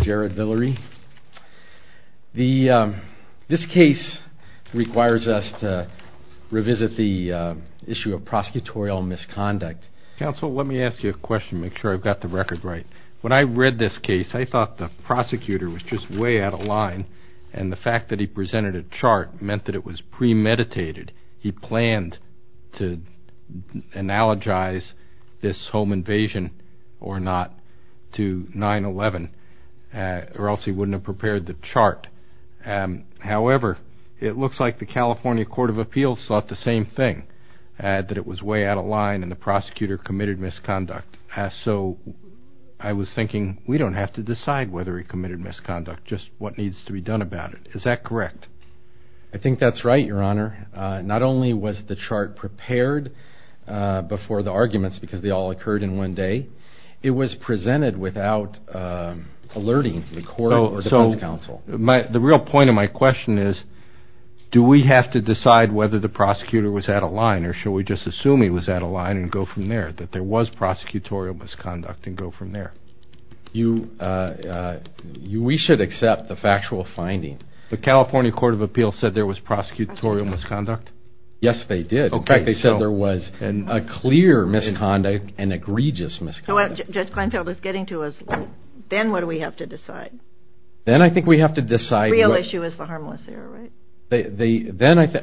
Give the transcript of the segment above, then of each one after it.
Jared Villery. This case requires us to revisit the issue of prosecutorial misconduct. Counsel, let me ask you a question to make sure I've got the record right. When I read this case, I thought the prosecutor was just way out of line, and the fact that he presented a chart meant that it was premeditated. He planned to analogize this home invasion or not to 9-11, or else he wouldn't have prepared the chart. However, it looks like the California Court of Appeals thought the same thing, that it was way out of line and the prosecutor committed misconduct. So I was thinking, we don't have to decide whether he committed misconduct, just what needs to be done about it. Is that correct? I think that's right, Your Honor. Not only was the chart prepared before the arguments because they all occurred in one day, it was presented without alerting the court or defense counsel. The real point of my question is, do we have to decide whether the prosecutor was out of line, or should we just assume he was out of line and go from there, that there was prosecutorial misconduct and go from there? We should accept the factual finding. The California Court of Appeals said there was prosecutorial misconduct? Yes, they did. In fact, they said there was a clear misconduct, an egregious misconduct. Judge Kleinfeld is getting to us. Then what do we have to decide? Then I think we have to decide... The real issue is the harmless error, right?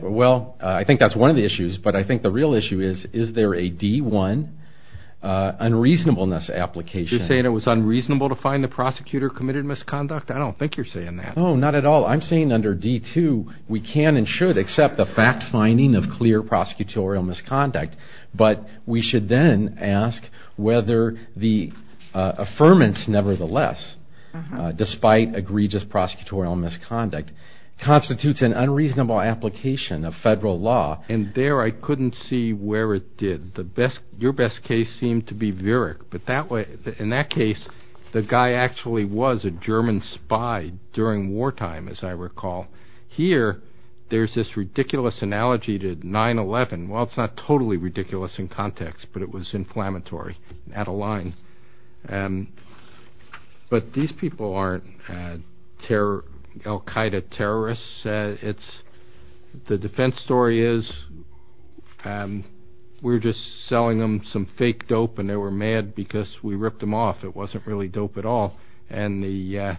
Well, I think that's one of the issues, but I think the real issue is, is there a D-1 unreasonableness application? You're saying it was unreasonable to find the prosecutor committed misconduct? I don't think you're saying that. No, not at all. I'm saying under D-2, we can and should accept the fact finding of clear prosecutorial misconduct, but we should then ask whether the affirmance, nevertheless, despite egregious prosecutorial misconduct, constitutes an unreasonable application of federal law. And there, I couldn't see where it did. Your best case seemed to be Virick, but in that case, the guy actually was a German spy during wartime, as I recall. Here, there's this ridiculous analogy to 9-11. Well, it's not totally ridiculous in context, but it was inflammatory, out of line. But these people aren't Al-Qaeda terrorists. The defense story is, we're just selling them some fake dope, and they were mad because we ripped them off. It wasn't really dope at all. And the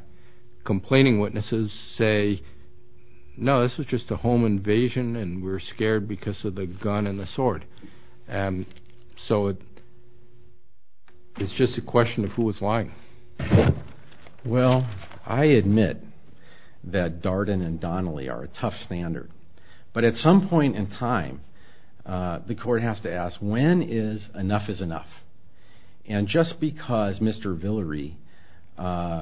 complaining witnesses say, no, this was just a home invasion, so it's just a question of who was lying. Well, I admit that Darden and Donnelly are a tough standard, but at some point in time, the court has to ask, when is enough is enough? And just because Mr. Villery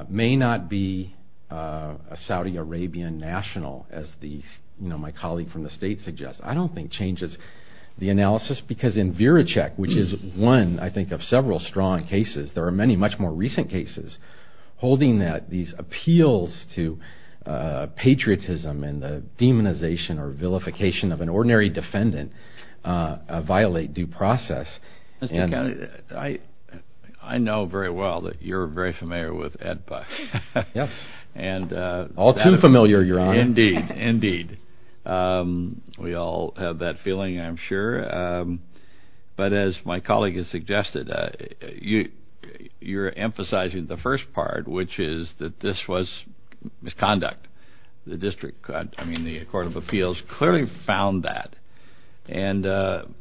may not be a Saudi Arabian national, as my colleague from the States suggests, I don't think changes the analysis. Because in Virichek, which is one, I think, of several strong cases, there are many much more recent cases holding that these appeals to patriotism and the demonization or vilification of an ordinary defendant violate due process. Mr. Kennedy, I know very well that you're very familiar with Ed Buck. Yes. All too familiar, Your Honor. Indeed. Indeed. We all have that feeling, I'm sure. But as my colleague has suggested, you're emphasizing the first part, which is that this was misconduct. The District Court, I mean the Court of Appeals, clearly found that.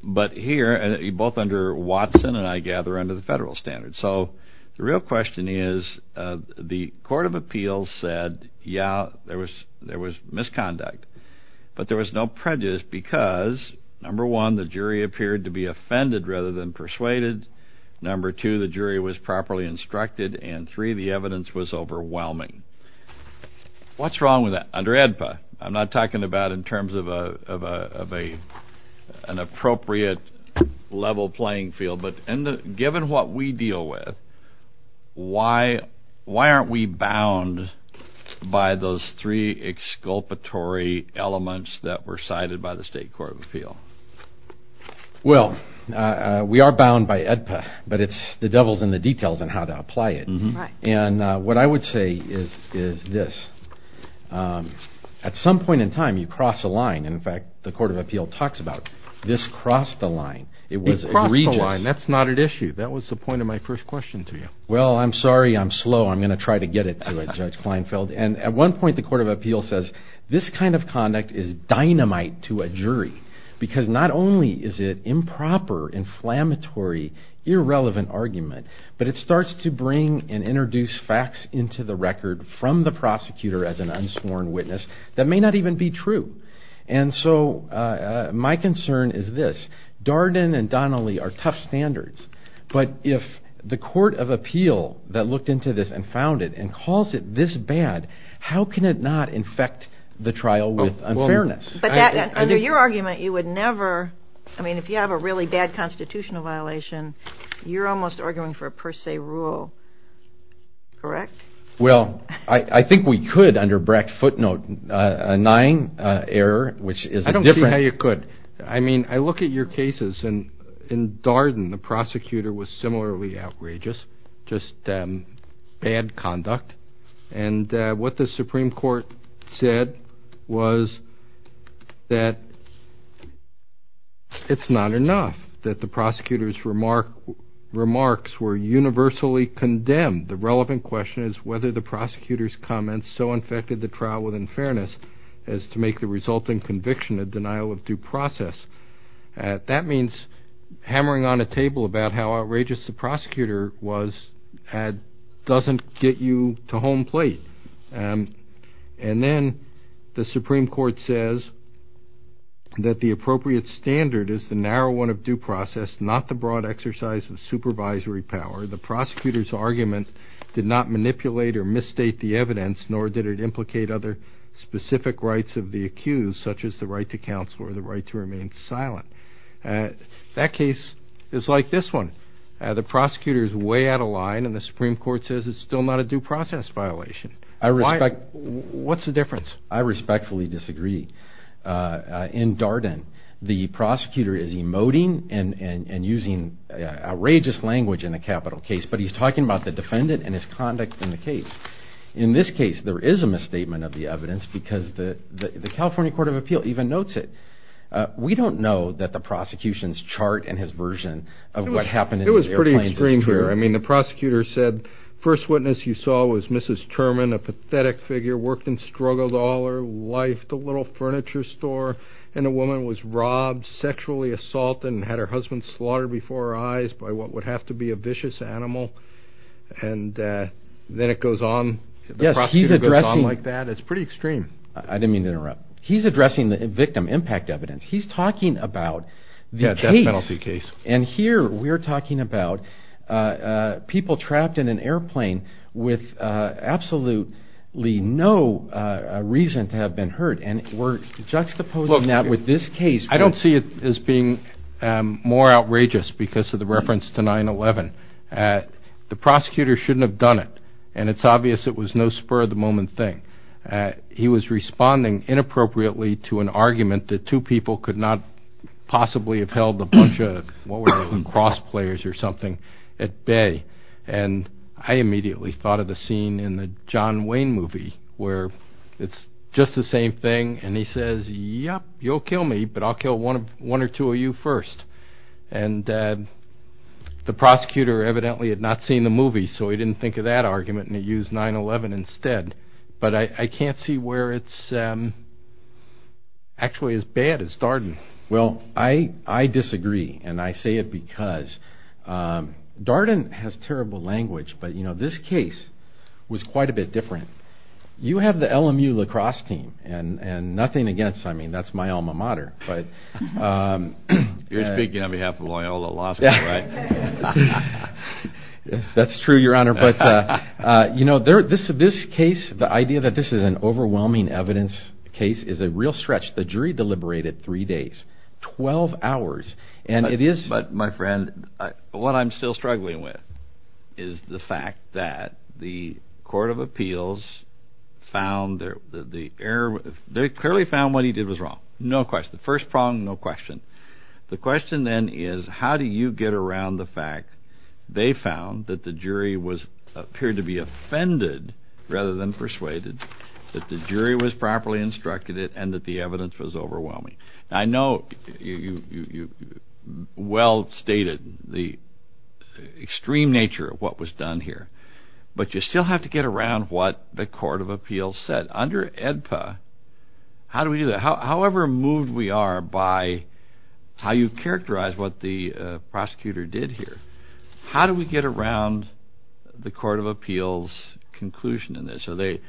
But here, both under Watson and, I gather, under the federal standards. So the real question is, the Court of Appeals said, yeah, there was misconduct. But there was no prejudice because, number one, the jury appeared to be offended rather than persuaded. Number two, the jury was properly instructed. And three, the evidence was overwhelming. What's wrong with that? Under AEDPA, I'm not talking about in terms of an appropriate level playing field. But given what we deal with, why aren't we bound by those three exculpatory elements that were cited by the State Court of Appeals? Well, we are bound by AEDPA. But it's the devil's in the details on how to apply it. And what I would say is this. At some point in time, you cross a line. In fact, the Court of Appeals talks about this crossed the line. It was egregious. It crossed the line. That's not at issue. That was the point of my first question to you. Well, I'm sorry I'm slow. I'm going to try to get it to Judge Kleinfeld. And at one point, the Court of Appeals says, this kind of conduct is dynamite to a jury because not only is it improper, inflammatory, irrelevant argument, but it starts to bring and introduce facts into the record from the prosecutor as an unsworn witness that may not even be true. And so my concern is this. Darden and Donnelly are tough standards. But if the Court of Appeal that looked into this and found it and calls it this bad, how can it not infect the trial with unfairness? But under your argument, you would never... I mean, if you have a really bad constitutional violation, you're almost arguing for a per se rule. Correct? Well, I think we could under Brack's footnote, a nine error, which is a different... I don't see how you could. I mean, I look at your cases, and in Darden, the prosecutor was similarly outrageous, just bad conduct. And what the Supreme Court said was that it's not enough that the prosecutor's remarks were universally condemned. The relevant question is whether the prosecutor's comments so infected the trial with unfairness as to make the resulting conviction a denial of due process. That means hammering on a table about how outrageous the prosecutor was doesn't get you to home plate. And then the Supreme Court says that the appropriate standard is the narrow one of due process, not the broad exercise of supervisory power. The prosecutor's argument did not manipulate or misstate the evidence, nor did it implicate other specific rights of the accused, such as the right to counsel or the right to remain silent. That case is like this one. The prosecutor is way out of line, and the Supreme Court says it's still not a due process violation. What's the difference? I respectfully disagree. In Darden, the prosecutor is emoting and using outrageous language in a capital case, but he's talking about the defendant and his conduct in the case. In this case, there is a misstatement of the evidence because the California Court of Appeal even notes it. We don't know that the prosecution's chart and his version of what happened in the airplanes is clear. It was pretty extreme here. I mean, the prosecutor said, first witness you saw was Mrs. Turman, a pathetic figure, worked and struggled all her life at a little furniture store, and a woman was robbed, sexually assaulted, and had her husband slaughtered before her eyes by what would have to be a vicious animal, and then it goes on. The prosecutor goes on like that. It's pretty extreme. I didn't mean to interrupt. He's addressing the victim impact evidence. He's talking about the case. The death penalty case. And here we're talking about people trapped in an airplane with absolutely no reason to have been hurt, and we're juxtaposing that with this case. I don't see it as being more outrageous because of the reference to 9-11. The prosecutor shouldn't have done it, and it's obvious it was no spur-of-the-moment thing. He was responding inappropriately to an argument that two people could not possibly have held a bunch of cross-players or something at bay, and I immediately thought of the scene in the John Wayne movie where it's just the same thing, and he says, yep, you'll kill me, but I'll kill one or two of you first. And the prosecutor evidently had not seen the movie, so he didn't think of that argument, and he used 9-11 instead. But I can't see where it's actually as bad as Darden. Well, I disagree, and I say it because Darden has terrible language, but, you know, this case was quite a bit different. You have the LMU lacrosse team, and nothing against them. I mean, that's my alma mater. You're speaking on behalf of Loyola Law School, right? That's true, Your Honor, but, you know, this case, the idea that this is an overwhelming evidence case is a real stretch. The jury deliberated three days, 12 hours, and it is... But, my friend, what I'm still struggling with is the fact that the Court of Appeals found the error. They clearly found what he did was wrong. No question. First prong, no question. The question, then, is how do you get around the fact they found that the jury appeared to be offended rather than persuaded, that the jury was properly instructed, and that the evidence was overwhelming? Now, I know you well stated the extreme nature of what was done here, but you still have to get around what the Court of Appeals said. Under AEDPA, how do we do that? However moved we are by how you characterize what the prosecutor did here, how do we get around the Court of Appeals' conclusion in this? Are they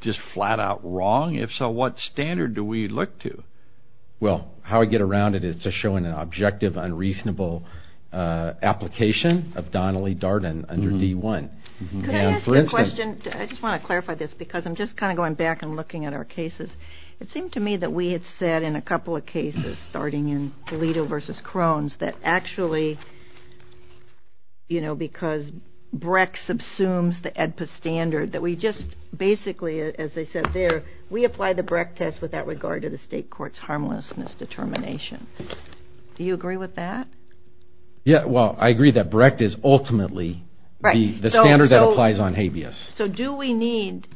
just flat-out wrong? If so, what standard do we look to? Well, how we get around it is to show an objective, unreasonable application of Donnelly-Darden under D-1. Could I ask you a question? I just want to clarify this because I'm just kind of going back and looking at our cases. It seemed to me that we had said in a couple of cases, starting in Alito v. Crones, that actually, you know, because BRECT subsumes the AEDPA standard, that we just basically, as they said there, we apply the BRECT test without regard to the state court's harmlessness determination. Do you agree with that? Yeah, well, I agree that BRECT is ultimately the standard that applies on habeas. So do we need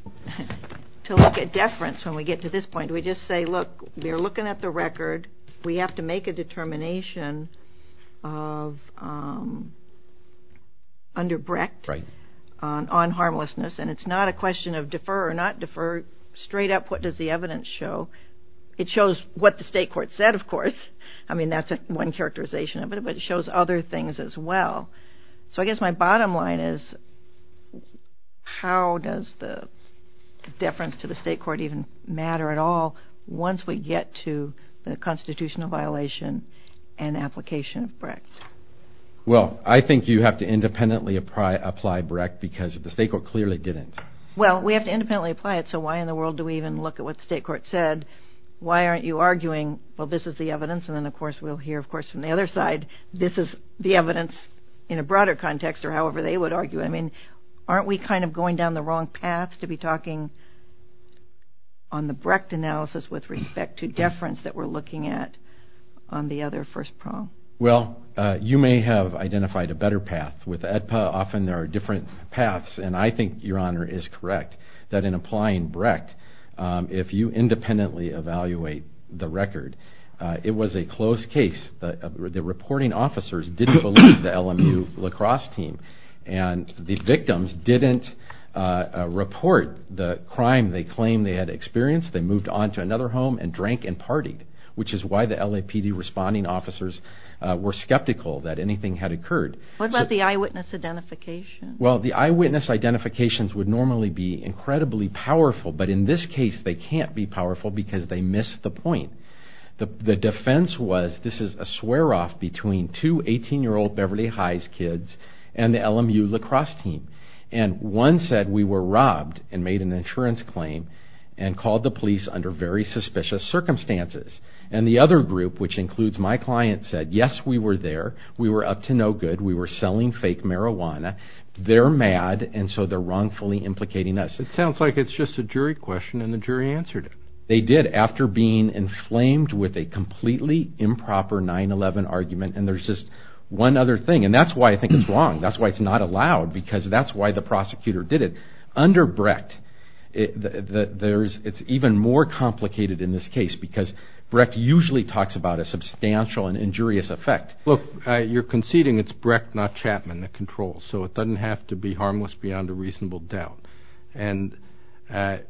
to look at deference when we get to this point? Do we just say, look, we're looking at the record. We have to make a determination under BRECT on harmlessness, and it's not a question of defer or not defer. Straight up, what does the evidence show? It shows what the state court said, of course. I mean, that's one characterization of it, but it shows other things as well. So I guess my bottom line is, how does the deference to the state court even matter at all once we get to the constitutional violation and application of BRECT? Well, I think you have to independently apply BRECT because the state court clearly didn't. Well, we have to independently apply it, so why in the world do we even look at what the state court said? Why aren't you arguing, well, this is the evidence, and then, of course, we'll hear, of course, from the other side, this is the evidence in a broader context or however they would argue it. I mean, aren't we kind of going down the wrong path to be talking on the BRECT analysis with respect to deference that we're looking at on the other first prong? Well, you may have identified a better path. With AEDPA, often there are different paths, and I think your Honor is correct, that in applying BRECT, if you independently evaluate the record, it was a closed case. The reporting officers didn't believe the LMU lacrosse team, and the victims didn't report the crime they claimed they had experienced. They moved on to another home and drank and partied, which is why the LAPD responding officers were skeptical that anything had occurred. What about the eyewitness identification? Well, the eyewitness identifications would normally be incredibly powerful, but in this case they can't be powerful because they missed the point. The defense was this is a swear-off between two 18-year-old Beverly Highs kids and the LMU lacrosse team. And one said, we were robbed and made an insurance claim and called the police under very suspicious circumstances. And the other group, which includes my client, said, yes, we were there. We were up to no good. We were selling fake marijuana. They're mad, and so they're wrongfully implicating us. It sounds like it's just a jury question, and the jury answered it. They did, after being inflamed with a completely improper 9-11 argument. And there's just one other thing, and that's why I think it's wrong. That's why it's not allowed, because that's why the prosecutor did it. Under Brecht, it's even more complicated in this case because Brecht usually talks about a substantial and injurious effect. Look, you're conceding it's Brecht, not Chapman, that controls, so it doesn't have to be harmless beyond a reasonable doubt. And I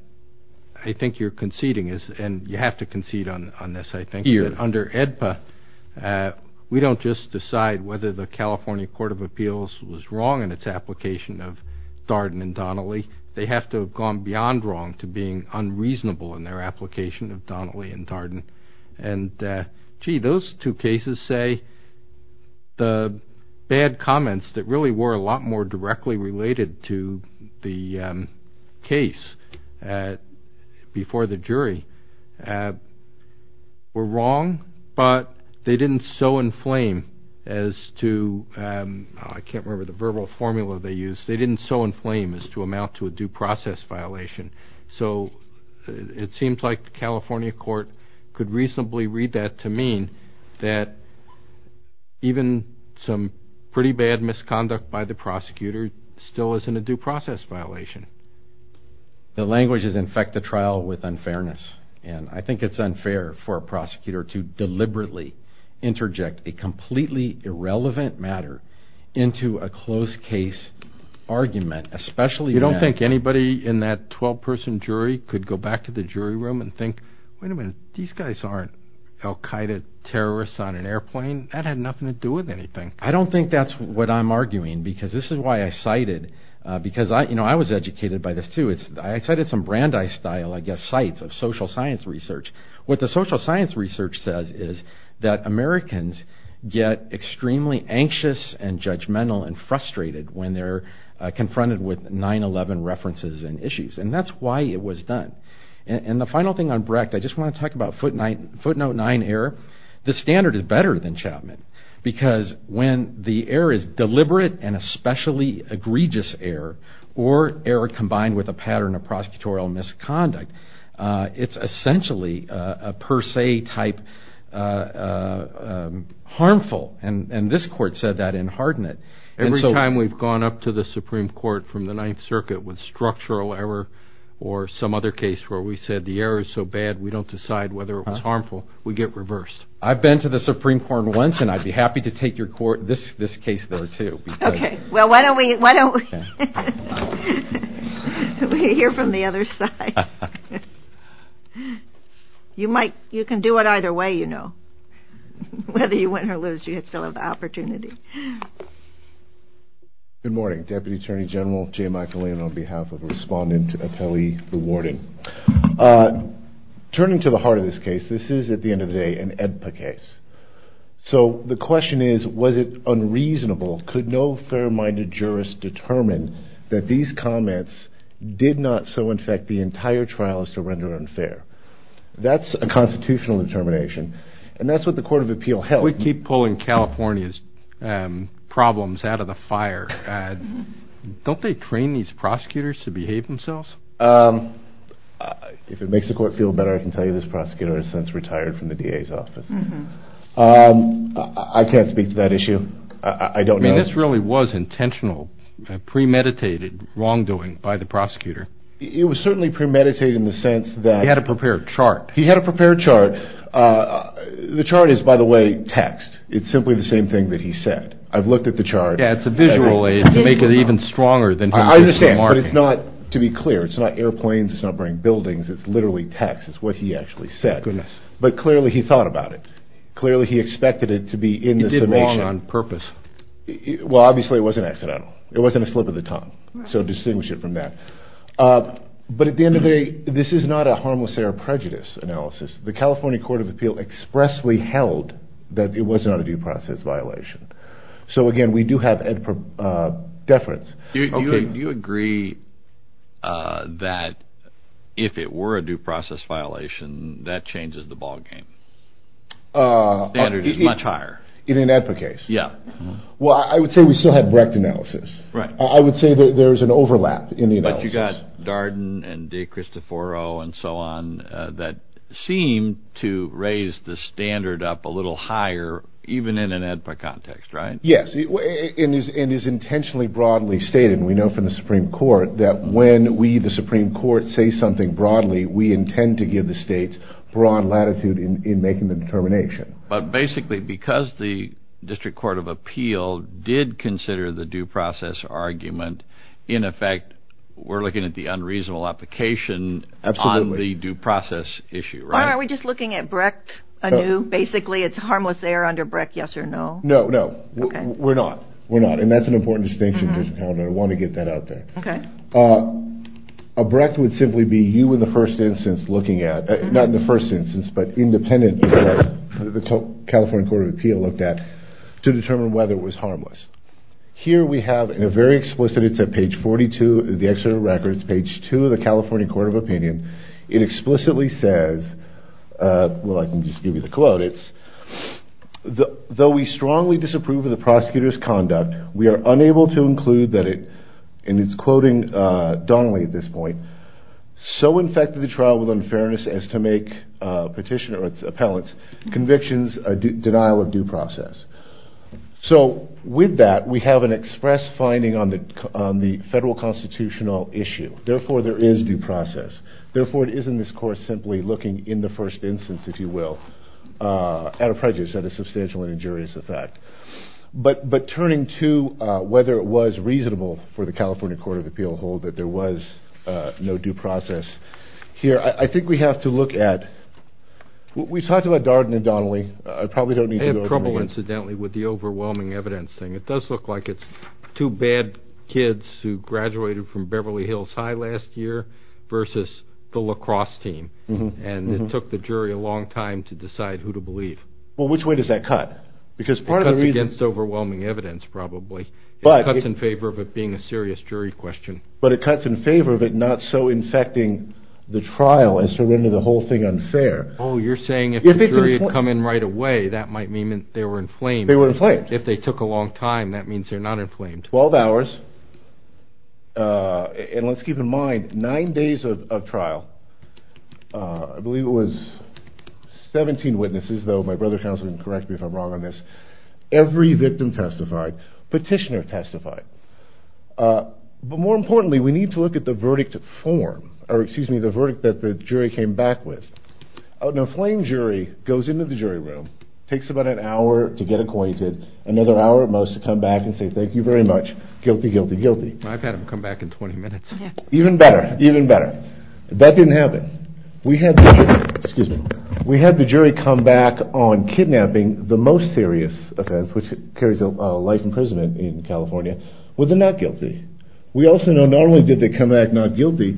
think you're conceding, and you have to concede on this, I think, that under AEDPA, we don't just decide whether the California Court of Appeals was wrong in its application of Darden and Donnelly. They have to have gone beyond wrong to being unreasonable in their application of Donnelly and Darden. And, gee, those two cases say the bad comments that really were a lot more directly related to the case before the jury were wrong, but they didn't so inflame as to, I can't remember the verbal formula they used, they didn't so inflame as to amount to a due process violation. So it seems like the California court could reasonably read that to mean that even some pretty bad misconduct by the prosecutor still isn't a due process violation. The language is infect the trial with unfairness, and I think it's unfair for a prosecutor to deliberately interject a completely irrelevant matter into a close case argument, especially when... You don't think anybody in that 12-person jury could go back to the jury room and think, wait a minute, these guys aren't Al-Qaeda terrorists on an airplane? That had nothing to do with anything. I don't think that's what I'm arguing, because this is why I cited... Because I was educated by this, too. I cited some Brandeis-style, I guess, sites of social science research. What the social science research says is that Americans get extremely anxious and judgmental and frustrated when they're confronted with 9-11 references and issues, and that's why it was done. And the final thing on Brecht, I just want to talk about footnote 9 error. The standard is better than Chapman, because when the error is deliberate and especially egregious error, or error combined with a pattern of prosecutorial misconduct, it's essentially a per se type harmful, and this court said that in Hardinet. Every time we've gone up to the Supreme Court from the Ninth Circuit with structural error or some other case where we said the error is so bad we don't decide whether it was harmful, we get reversed. I've been to the Supreme Court once, and I'd be happy to take your case there, too. Okay, well, why don't we hear from the other side? You can do it either way, you know. Whether you win or lose, you still have the opportunity. Good morning. Deputy Attorney General Jay McAleenan on behalf of Respondent Appellee Rewarding. Turning to the heart of this case, this is, at the end of the day, an EBPA case. So the question is, was it unreasonable? Could no fair-minded jurist determine that these comments did not so infect the entire trial as to render it unfair? That's a constitutional determination, and that's what the Court of Appeal held. If we keep pulling California's problems out of the fire, don't they train these prosecutors to behave themselves? If it makes the Court feel better, I can tell you this prosecutor has since retired from the DA's office. I can't speak to that issue. I don't know. I mean, this really was intentional premeditated wrongdoing by the prosecutor. It was certainly premeditated in the sense that... He had a prepared chart. He had a prepared chart. The chart is, by the way, text. It's simply the same thing that he said. I've looked at the chart. Yeah, it's a visual aid to make it even stronger than... I understand, but it's not, to be clear, it's not airplanes. It's not burning buildings. It's literally text. It's what he actually said. Goodness. But clearly he thought about it. Clearly he expected it to be in the summation. He did wrong on purpose. Well, obviously it wasn't accidental. It wasn't a slip of the tongue, so distinguish it from that. But at the end of the day, this is not a harmless air prejudice analysis. The California Court of Appeal expressly held that it was not a due process violation. So, again, we do have Edper deference. Do you agree that if it were a due process violation, that changes the ballgame? The standard is much higher. In an Edper case? Yeah. Well, I would say we still have Brecht analysis. I would say there's an overlap in the analysis. But you've got Darden and De Cristoforo and so on that seem to raise the standard up a little higher, even in an Edper context, right? Yes. It is intentionally broadly stated, and we know from the Supreme Court, that when we, the Supreme Court, say something broadly, we intend to give the states broad latitude in making the determination. But basically, because the District Court of Appeal did consider the due process argument, in effect, we're looking at the unreasonable application on the due process issue, right? Why aren't we just looking at Brecht anew, basically? It's harmless air under Brecht, yes or no? No, no. We're not. We're not. And that's an important distinction to count on. I want to get that out there. Okay. A Brecht would simply be you, in the first instance, looking at, not in the first instance, but independent of what the California Court of Appeal looked at, to determine whether it was harmless. Here we have, in a very explicit, it's at page 42 of the Exeter records, page 2 of the California Court of Opinion, it explicitly says, well, I can just give you the quote, it's, though we strongly disapprove of the prosecutor's conduct, we are unable to include that it, and it's quoting Donnelly at this point, so infected the trial with unfairness as to make petitioner or its appellants' convictions a denial of due process. So with that, we have an express finding on the federal constitutional issue. Therefore, there is due process. Therefore, it is in this course simply looking, in the first instance, if you will, at a prejudice, at a substantial and injurious effect. But turning to whether it was reasonable for the California Court of Appeal to hold that there was no due process here, I think we have to look at, we talked about Darden and Donnelly. I probably don't need to go over them again. I have trouble, incidentally, with the overwhelming evidence thing. It does look like it's two bad kids who graduated from Beverly Hills High last year versus the lacrosse team, and it took the jury a long time to decide who to believe. Well, which way does that cut? It cuts against overwhelming evidence, probably. It cuts in favor of it being a serious jury question. But it cuts in favor of it not so infecting the trial as to render the whole thing unfair. Oh, you're saying if the jury had come in right away, that might mean that they were inflamed. They were inflamed. If they took a long time, that means they're not inflamed. Twelve hours. And let's keep in mind, nine days of trial. I believe it was 17 witnesses, though. My brother counsel can correct me if I'm wrong on this. Every victim testified. Petitioner testified. But more importantly, we need to look at the verdict form, or excuse me, the verdict that the jury came back with. An inflamed jury goes into the jury room, takes about an hour to get acquainted, another hour at most to come back and say, thank you very much. Guilty, guilty, guilty. I've had them come back in 20 minutes. Even better, even better. That didn't happen. We had the jury come back on kidnapping the most serious offense, which carries a life imprisonment in California, where they're not guilty. We also know not only did they come back not guilty,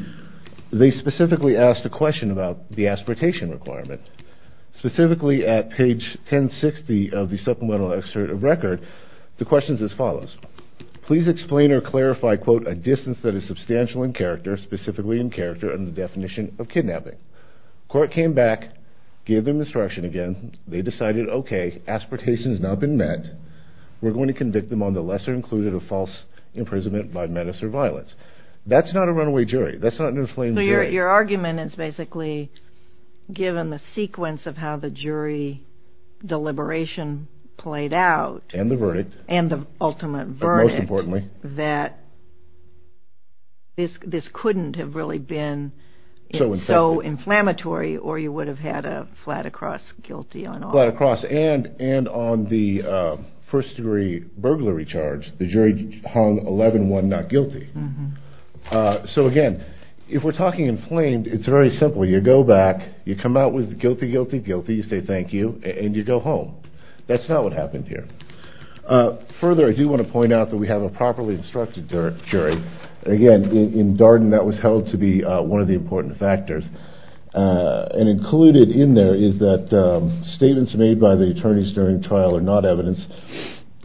they specifically asked a question about the aspiratation requirement. Specifically at page 1060 of the supplemental excerpt of record, the question is as follows. Please explain or clarify, quote, a distance that is substantial in character, specifically in character, and the definition of kidnapping. Court came back, gave them instruction again. They decided, okay, aspiratation has not been met. We're going to convict them on the lesser included of false imprisonment by menace or violence. That's not a runaway jury. That's not an inflamed jury. Your argument is basically given the sequence of how the jury deliberation played out. And the verdict. And the ultimate verdict. Most importantly. That this couldn't have really been so inflammatory, or you would have had a flat across guilty on all. Flat across, and on the first degree burglary charge, the jury hung 11-1 not guilty. So, again, if we're talking inflamed, it's very simple. You go back. You come out with guilty, guilty, guilty. You say thank you. And you go home. That's not what happened here. Further, I do want to point out that we have a properly instructed jury. Again, in Darden, that was held to be one of the important factors. And included in there is that statements made by the attorneys during trial are not evidence.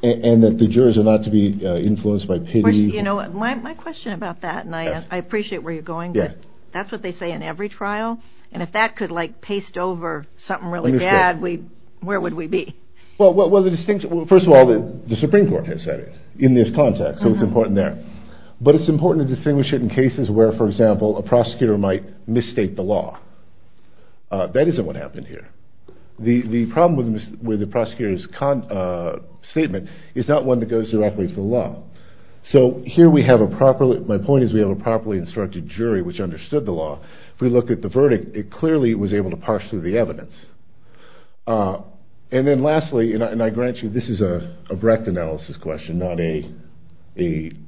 And that the jurors are not to be influenced by pity. My question about that, and I appreciate where you're going, but that's what they say in every trial. And if that could, like, paste over something really bad, where would we be? Well, first of all, the Supreme Court has said it in this context, so it's important there. But it's important to distinguish it in cases where, for example, a prosecutor might misstate the law. That isn't what happened here. The problem with the prosecutor's statement is not one that goes directly to the law. So here we have a properly ‑‑ my point is we have a properly instructed jury which understood the law. If we look at the verdict, it clearly was able to parse through the evidence. And then lastly, and I grant you this is a direct analysis question, not a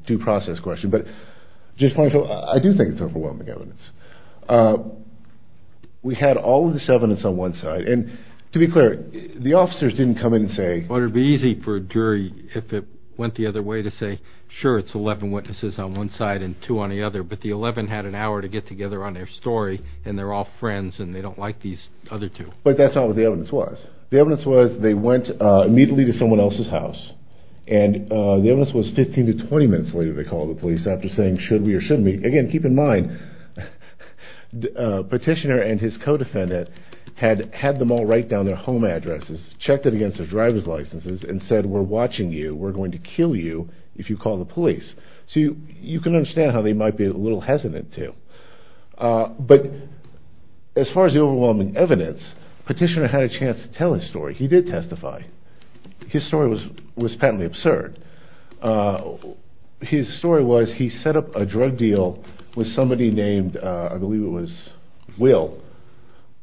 due process question. But I do think it's overwhelming evidence. We had all of this evidence on one side. And to be clear, the officers didn't come in and say ‑‑ sure, it's 11 witnesses on one side and two on the other. But the 11 had an hour to get together on their story, and they're all friends, and they don't like these other two. But that's not what the evidence was. The evidence was they went immediately to someone else's house. And the evidence was 15 to 20 minutes later they called the police after saying, should we or shouldn't we? Again, keep in mind, the petitioner and his co‑defendant had them all write down their home addresses, checked it against their driver's licenses, and said, we're watching you. We're going to kill you if you call the police. So you can understand how they might be a little hesitant to. But as far as the overwhelming evidence, the petitioner had a chance to tell his story. He did testify. His story was patently absurd. His story was he set up a drug deal with somebody named, I believe it was Will.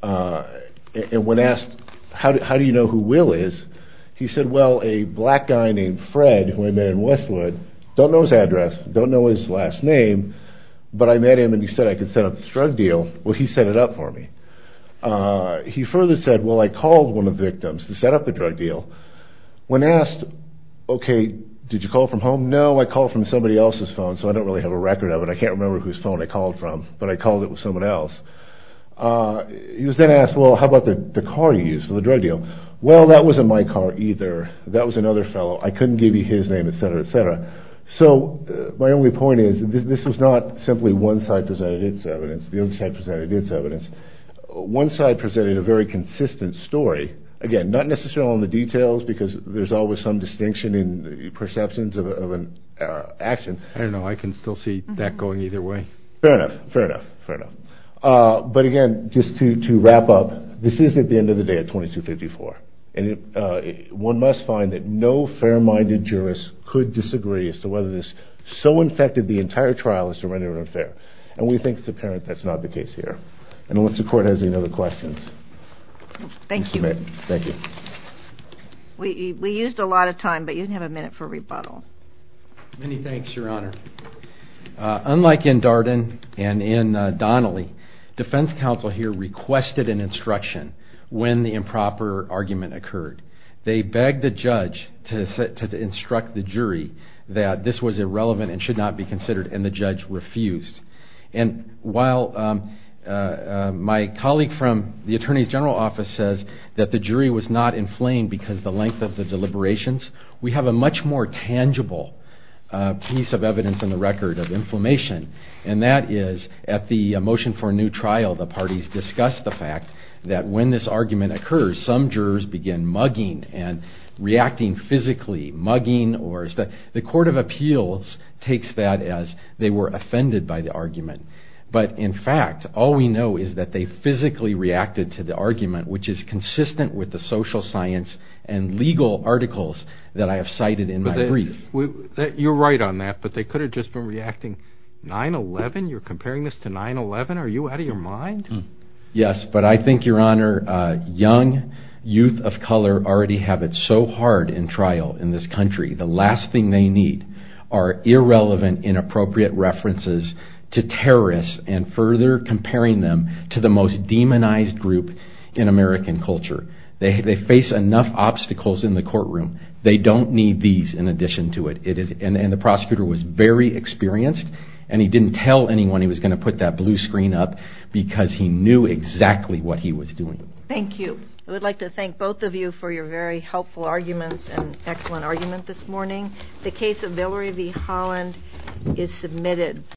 And when asked, how do you know who Will is, he said, well, a black guy named Fred who I met in Westwood, don't know his address, don't know his last name, but I met him and he said I could set up this drug deal. Well, he set it up for me. He further said, well, I called one of the victims to set up the drug deal. When asked, okay, did you call from home? No, I called from somebody else's phone, so I don't really have a record of it. I can't remember whose phone I called from, but I called it was someone else. He was then asked, well, how about the car you used for the drug deal? Well, that wasn't my car either. That was another fellow. I couldn't give you his name, et cetera, et cetera. So my only point is this was not simply one side presented its evidence. The other side presented its evidence. One side presented a very consistent story. Again, not necessarily on the details because there's always some distinction in perceptions of an action. I don't know. I can still see that going either way. Fair enough. Fair enough. Fair enough. But, again, just to wrap up, this is at the end of the day at 2254. One must find that no fair-minded jurist could disagree as to whether this so infected the entire trial as to render it unfair. We think it's apparent that's not the case here. I don't know if the Court has any other questions. Thank you. Thank you. We used a lot of time, but you can have a minute for rebuttal. Many thanks, Your Honor. Unlike in Darden and in Donnelly, defense counsel here requested an instruction when the improper argument occurred. They begged the judge to instruct the jury that this was irrelevant and should not be considered, and the judge refused. And while my colleague from the Attorney's General Office says that the jury was not inflamed because of the length of the deliberations, we have a much more tangible piece of evidence in the record of inflammation, and that is at the motion for a new trial, the parties discussed the fact that when this argument occurs, some jurors begin mugging and reacting physically, mugging. The Court of Appeals takes that as they were offended by the argument. But, in fact, all we know is that they physically reacted to the argument, which is consistent with the social science and legal articles that I have cited in my brief. You're right on that, but they could have just been reacting. 9-11? You're comparing this to 9-11? Are you out of your mind? Yes, but I think, Your Honor, young youth of color already have it so hard in trial in this country, the last thing they need are irrelevant, inappropriate references to terrorists and further comparing them to the most demonized group in American culture. They face enough obstacles in the courtroom. They don't need these in addition to it. And the prosecutor was very experienced, and he didn't tell anyone he was going to put that blue screen up because he knew exactly what he was doing. Thank you. I would like to thank both of you for your very helpful arguments and excellent argument this morning. The case of Valerie V. Holland is submitted.